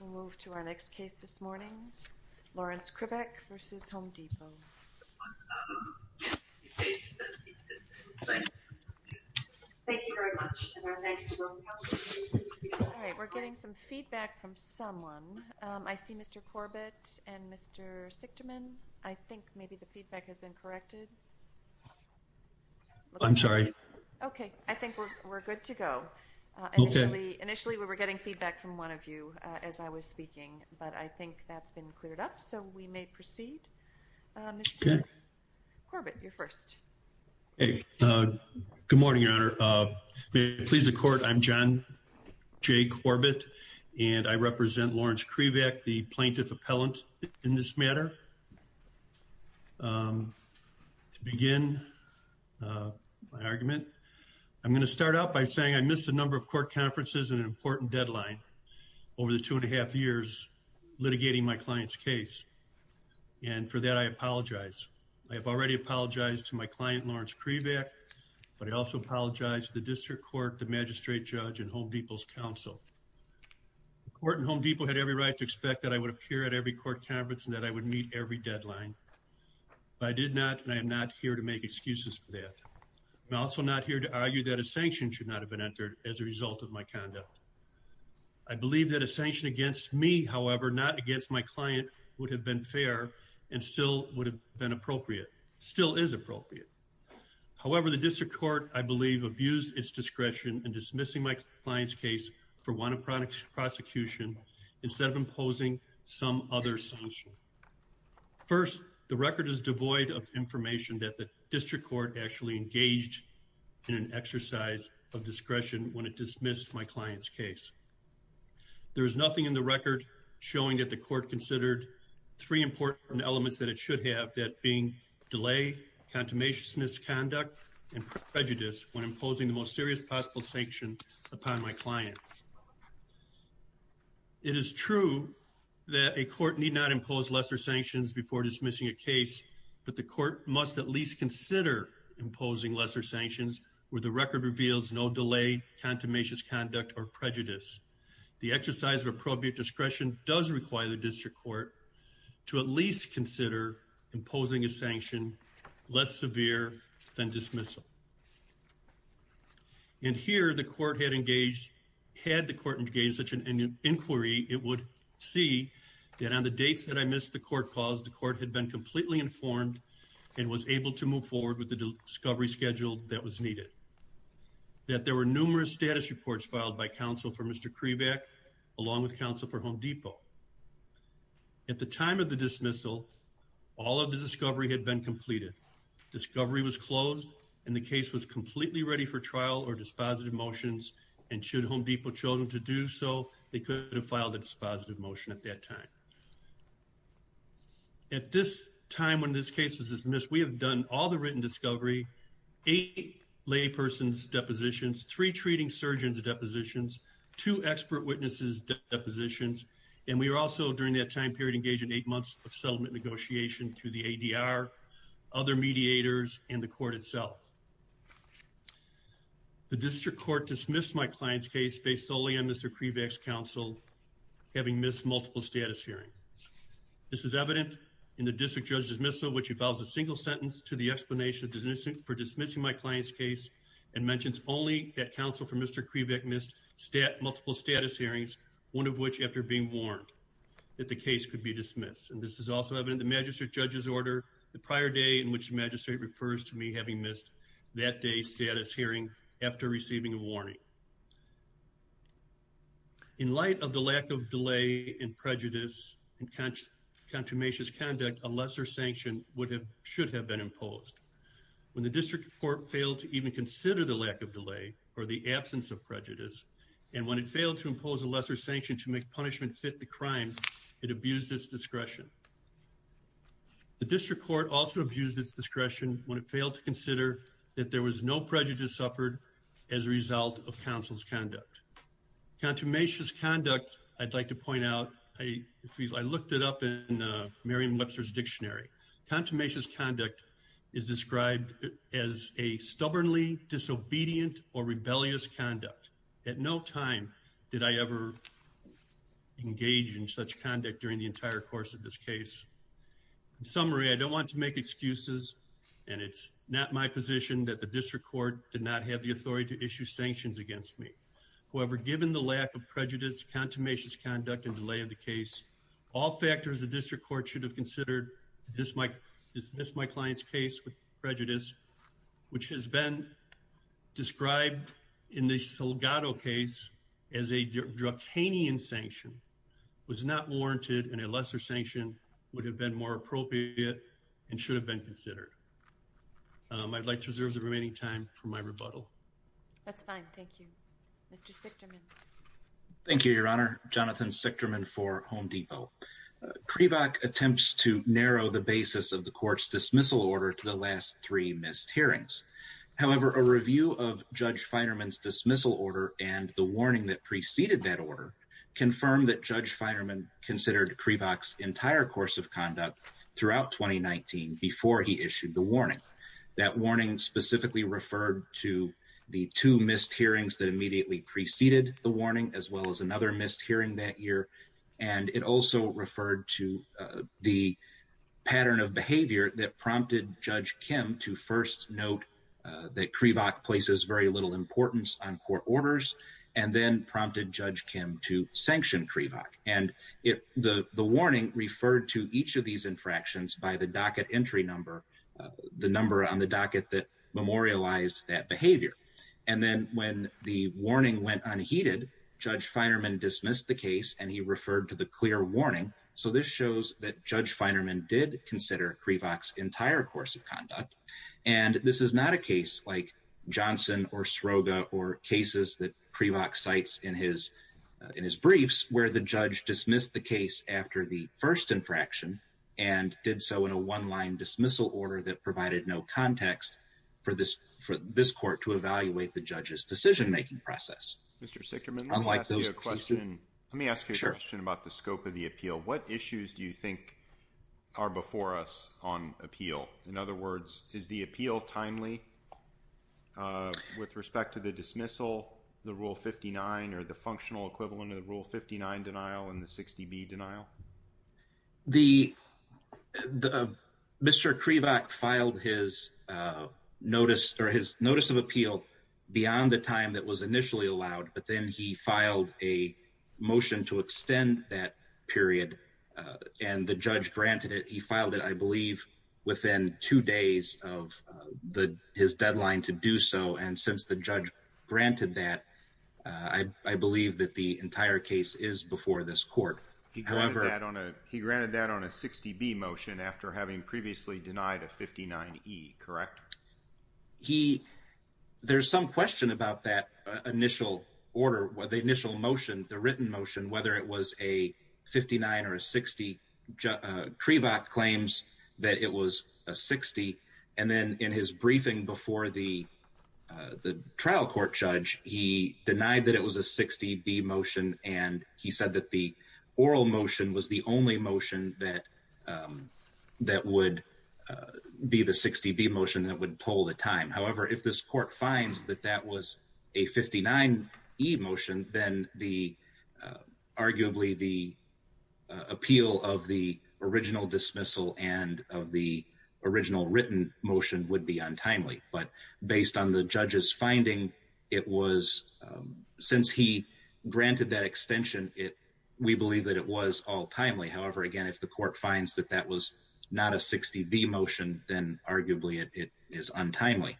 We'll move to our next case this morning. Lawrence Krivak v. Home Depot. Thank you very much, and our thanks to all the counselors who assisted us. All right, we're getting some feedback from someone. I see Mr. Corbett and Mr. Sichterman. I think maybe the feedback has been corrected. I'm sorry. Okay, I think we're good to go. Initially, we were getting feedback from one of you as I was speaking, but I think that's been cleared up, so we may proceed. Mr. Corbett, you're first. Hey, good morning, Your Honor. May it please the Court, I'm John J. Corbett, and I represent Lawrence Krivak, the plaintiff appellant in this matter. To begin my argument, I'm gonna start out by saying I missed a number of court conferences and an important deadline over the two and a half years litigating my client's case, and for that, I apologize. I have already apologized to my client, Lawrence Krivak, but I also apologize to the district court, the magistrate judge, and Home Depot's counsel. The court in Home Depot had every right to expect that I would appear at every court conference and that I would meet every deadline, but I did not, and I am not here to make excuses for that. I'm also not here to argue that a sanction should not have been entered as a result of my conduct. I believe that a sanction against me, however, not against my client, would have been fair and still would have been appropriate, still is appropriate. However, the district court, I believe, abused its discretion in dismissing my client's case for one of prosecution instead of imposing some other sanction. First, the record is devoid of information that the district court actually engaged in an exercise of discretion when it dismissed my client's case. There is nothing in the record showing that the court considered three important elements that it should have, that being delay, contumacious misconduct, and prejudice when imposing the most serious possible sanction upon my client. It is true that a court need not impose lesser sanctions before dismissing a case, but the court must at least consider imposing lesser sanctions where the record reveals no delay, contumacious conduct, or prejudice. The exercise of appropriate discretion does require the district court to at least consider imposing a sanction less severe than dismissal. And here, the court had engaged, had the court engaged in such an inquiry, it would see that on the dates that I missed the court calls, the court had been completely informed and was able to move forward with the discovery schedule that was needed. That there were numerous status reports filed by counsel for Mr. Krivak, along with counsel for Home Depot. At the time of the dismissal, all of the discovery had been completed. Discovery was closed, and the case was completely ready for trial or dispositive motions, and should Home Depot chosen to do so, they could have filed a dispositive motion at that time. At this time, when this case was dismissed, we have done all the written discovery, eight lay person's depositions, three treating surgeons depositions, two expert witnesses depositions, and we were also during that time period engaged in eight months of settlement negotiation through the ADR, other mediators, and the court itself. The district court dismissed my client's case based solely on Mr. Krivak's counsel having missed multiple status hearings. This is evident in the district judge dismissal, which involves a single sentence to the explanation for dismissing my client's case, and mentions only that counsel for Mr. Krivak missed multiple status hearings, one of which after being warned that the case could be dismissed. And this is also evident in the magistrate judge's order the prior day in which the magistrate refers to me having missed that day's status hearing after receiving a warning. In light of the lack of delay and prejudice and contumacious conduct, a lesser sanction should have been imposed. When the district court failed to even consider the lack of delay or the absence of prejudice, and when it failed to impose a lesser sanction to make punishment fit the crime, it abused its discretion. The district court also abused its discretion when it failed to consider that there was no prejudice suffered as a result of counsel's conduct. Contumacious conduct, I'd like to point out, I looked it up in Merriam-Webster's dictionary. Contumacious conduct is described as a stubbornly disobedient or rebellious conduct. At no time did I ever engage in such conduct during the entire course of this case. In summary, I don't want to make excuses, and it's not my position that the district court did not have the authority to issue sanctions against me. However, given the lack of prejudice, contumacious conduct, and delay of the case, all factors the district court should have considered to dismiss my client's case with prejudice, which has been described in the Salgado case as a dracanian sanction, was not warranted, and a lesser sanction would have been more appropriate and should have been considered. I'd like to reserve the remaining time for my rebuttal. That's fine, thank you. Mr. Sichterman. Thank you, Your Honor. Jonathan Sichterman for Home Depot. CREVOC attempts to narrow the basis of the court's dismissal order to the last three missed hearings. However, a review of Judge Feinerman's dismissal order and the warning that preceded that order confirmed that Judge Feinerman considered CREVOC's entire course of conduct throughout 2019 before he issued the warning. That warning specifically referred to the two missed hearings that immediately preceded the warning as well as another missed hearing that year. And it also referred to the pattern of behavior that prompted Judge Kim to first note that CREVOC places very little importance on court orders and then prompted Judge Kim to sanction CREVOC. And the warning referred to each of these infractions by the docket entry number, the number on the docket that memorialized that behavior. And then when the warning went unheeded, Judge Feinerman dismissed the case and he referred to the clear warning. So this shows that Judge Feinerman did consider CREVOC's entire course of conduct. And this is not a case like Johnson or Sroga or cases that CREVOC cites in his briefs where the judge dismissed the case after the first infraction and did so in a one-line dismissal order that provided no context for this court to evaluate the judge's decision-making process. Mr. Sickerman, let me ask you a question. Let me ask you a question about the scope of the appeal. What issues do you think are before us on appeal? In other words, is the appeal timely with respect to the dismissal, the Rule 59 or the functional equivalent of the Rule 59 denial and the 60B denial? The, Mr. CREVOC filed his notice or his notice of appeal beyond the time that was initially allowed, but then he filed a motion to extend that period and the judge granted it. He filed it, I believe within two days of his deadline to do so. And since the judge granted that, I believe that the entire case is before this court. However- He granted that on a 60B motion after having previously denied a 59E, correct? He, there's some question about that initial order, the initial motion, the written motion, whether it was a 59 or a 60. CREVOC claims that it was a 60. And then in his briefing before the trial court judge, he denied that it was a 60B motion. And he said that the oral motion was the only motion that would be the 60B motion that would pull the time. However, if this court finds that that was a 59E motion, then the arguably the appeal of the original dismissal and of the original written motion would be untimely. But based on the judge's finding, it was, since he granted that extension, we believe that it was all timely. However, again, if the court finds that that was not a 60B motion, then arguably it is untimely.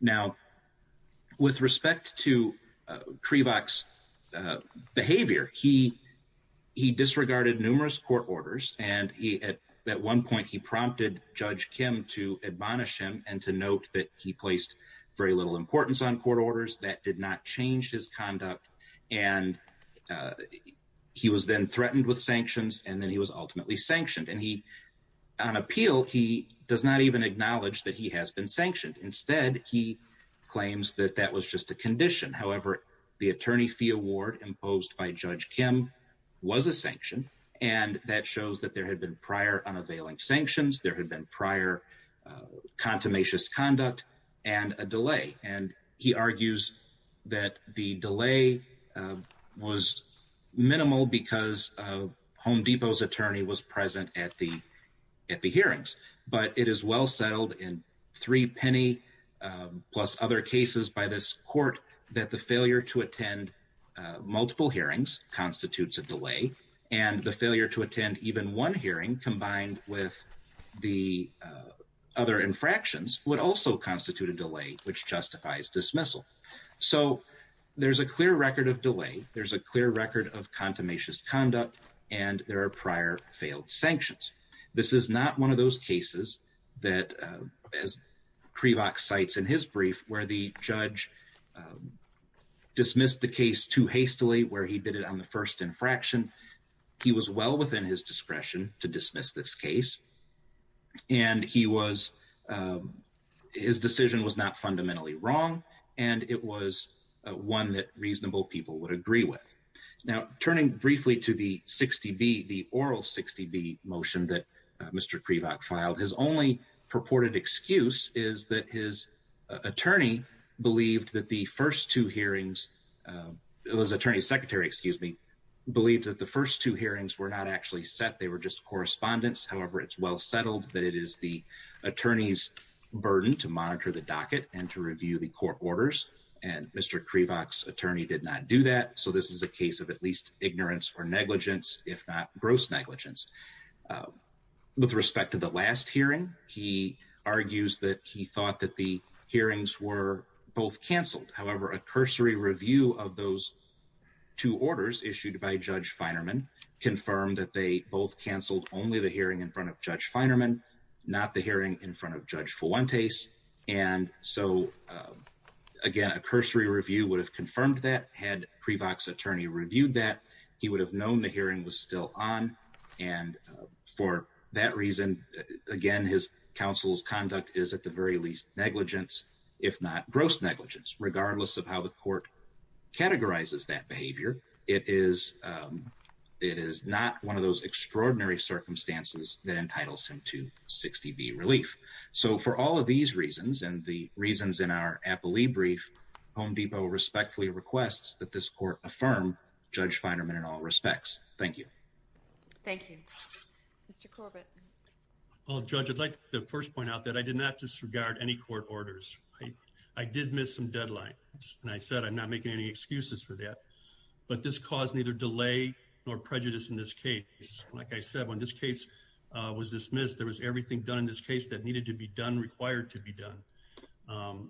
Now, with respect to CREVOC's behavior, he disregarded numerous court orders. And at one point he prompted Judge Kim to admonish him and to note that he placed very little importance on court orders that did not change his conduct. And he was then threatened with sanctions and then he was ultimately sanctioned. And he, on appeal, he does not even acknowledge that he has been sanctioned. Instead, he claims that that was just a condition. However, the attorney fee award imposed by Judge Kim was a sanction. And that shows that there had been prior unavailing sanctions. There had been prior contumacious conduct and a delay. And he argues that the delay was minimal because Home Depot's attorney was present at the hearings. But it is well settled in three penny plus other cases by this court that the failure to attend multiple hearings constitutes a delay. And the failure to attend even one hearing combined with the other infractions would also constitute a delay, which justifies dismissal. So there's a clear record of delay. There's a clear record of contumacious conduct and there are prior failed sanctions. This is not one of those cases that, as Krivak cites in his brief, where the judge dismissed the case too hastily, where he did it on the first infraction. He was well within his discretion to dismiss this case. And his decision was not fundamentally wrong. And it was one that reasonable people would agree with. Now, turning briefly to the 60B, the oral 60B motion that Mr. Krivak filed, his only purported excuse is that his attorney believed that the first two hearings, it was attorney secretary, excuse me, believed that the first two hearings were not actually set. They were just correspondence. However, it's well settled that it is the attorney's burden to monitor the docket and to review the court orders. And Mr. Krivak's attorney did not do that. So this is a case of at least ignorance or negligence, if not gross negligence. With respect to the last hearing, he argues that he thought that the hearings were both canceled. However, a cursory review of those two orders issued by Judge Feinerman confirmed that they both canceled only the hearing in front of Judge Feinerman, not the hearing in front of Judge Fuentes. And so again, a cursory review would have confirmed that. Had Krivak's attorney reviewed that, he would have known the hearing was still on. And for that reason, again, his counsel's conduct is at the very least negligence, if not gross negligence, regardless of how the court categorizes that behavior. It is not one of those extraordinary circumstances that entitles him to 60B relief. So for all of these reasons, and the reasons in our Appley brief, Home Depot respectfully requests that this court affirm Judge Feinerman in all respects. Thank you. Thank you. Mr. Corbett. Well, Judge, I'd like to first point out that I did not disregard any court orders. I did miss some deadlines. And I said, I'm not making any excuses for that, but this caused neither delay nor prejudice in this case. Like I said, when this case was dismissed, there was everything done in this case that needed to be done, required to be done.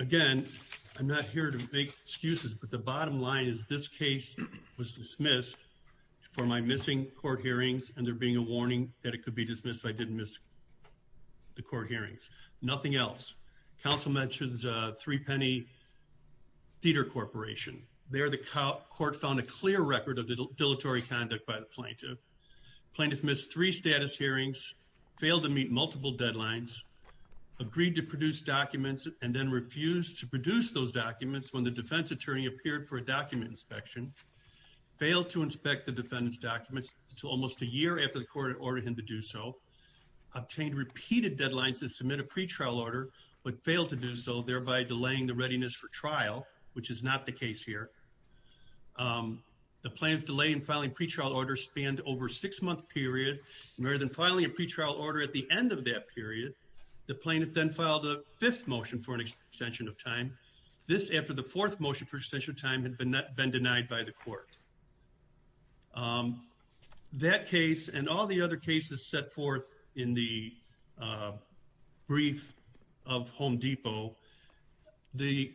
Again, I'm not here to make excuses, but the bottom line is this case was dismissed for my missing court hearings, and there being a warning that it could be dismissed if I didn't miss the court hearings. Nothing else. Council mentions Three Penny Theater Corporation. There the court found a clear record of the dilatory conduct by the plaintiff. Plaintiff missed three status hearings, failed to meet multiple deadlines, agreed to produce documents, and then refused to produce those documents when the defense attorney appeared for a document inspection, failed to inspect the defendant's documents until almost a year after the court had ordered him to do so, obtained repeated deadlines to submit a pretrial order, but failed to do so, thereby delaying the readiness for trial, which is not the case here. The plaintiff's delay in filing pretrial orders spanned over a six month period. Rather than filing a pretrial order at the end of that period, the plaintiff then filed a fifth motion This after the fourth motion for extension of time had been denied by the court. That case and all the other cases set forth in the brief of Home Depot, the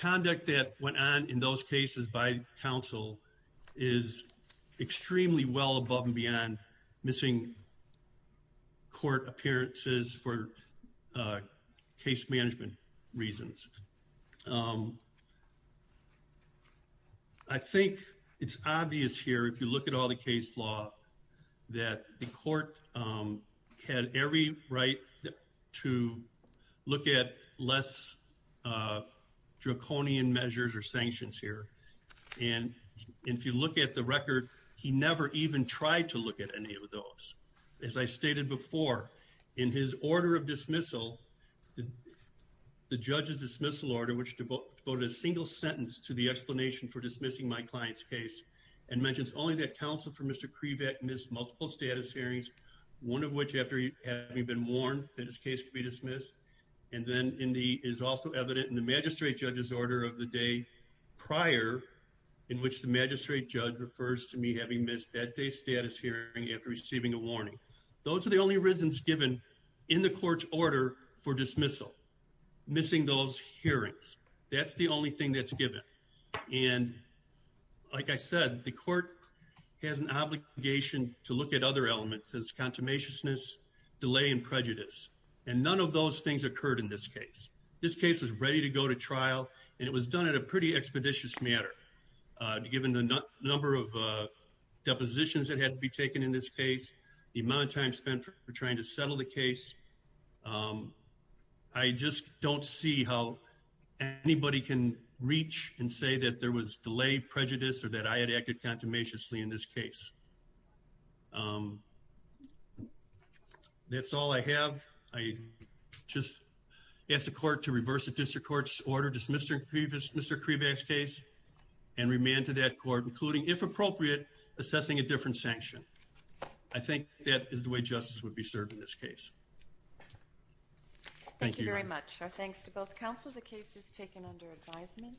conduct that went on in those cases by council is extremely well above and beyond missing court appearances for case management reasons. I think it's obvious here, if you look at all the case law, that the court had every right to look at less draconian measures or sanctions here. And if you look at the record, he never even tried to look at any of those. As I stated before, in his order of dismissal, the judge's dismissal order, which devoted a single sentence to the explanation for dismissing my client's case, and mentions only that counsel for Mr. Krivak missed multiple status hearings, one of which after having been warned that his case could be dismissed, and then is also evident in the magistrate judge's order of the day prior, in which the magistrate judge refers to me having missed that day's status hearing after receiving a warning. Those are the only reasons given in the court's order for dismissal, missing those hearings. That's the only thing that's given. And like I said, the court has an obligation to look at other elements, as consummatiousness, delay, and prejudice. And none of those things occurred in this case. This case was ready to go to trial, and it was done at a pretty expeditious manner, given the number of depositions that had to be taken in this case, the amount of time spent for trying to settle the case. I just don't see how anybody can reach and say that there was delay, prejudice, or that I had acted consummatiously in this case. That's all I have. I just ask the court to reverse the district court's order to dismiss Mr. Krivak's case, and remand to that court, including, if appropriate, assessing a different sanction. I think that is the way justice would be served in this case. Thank you, Your Honor. Thank you very much. Our thanks to both counsel. The case is taken under advisement.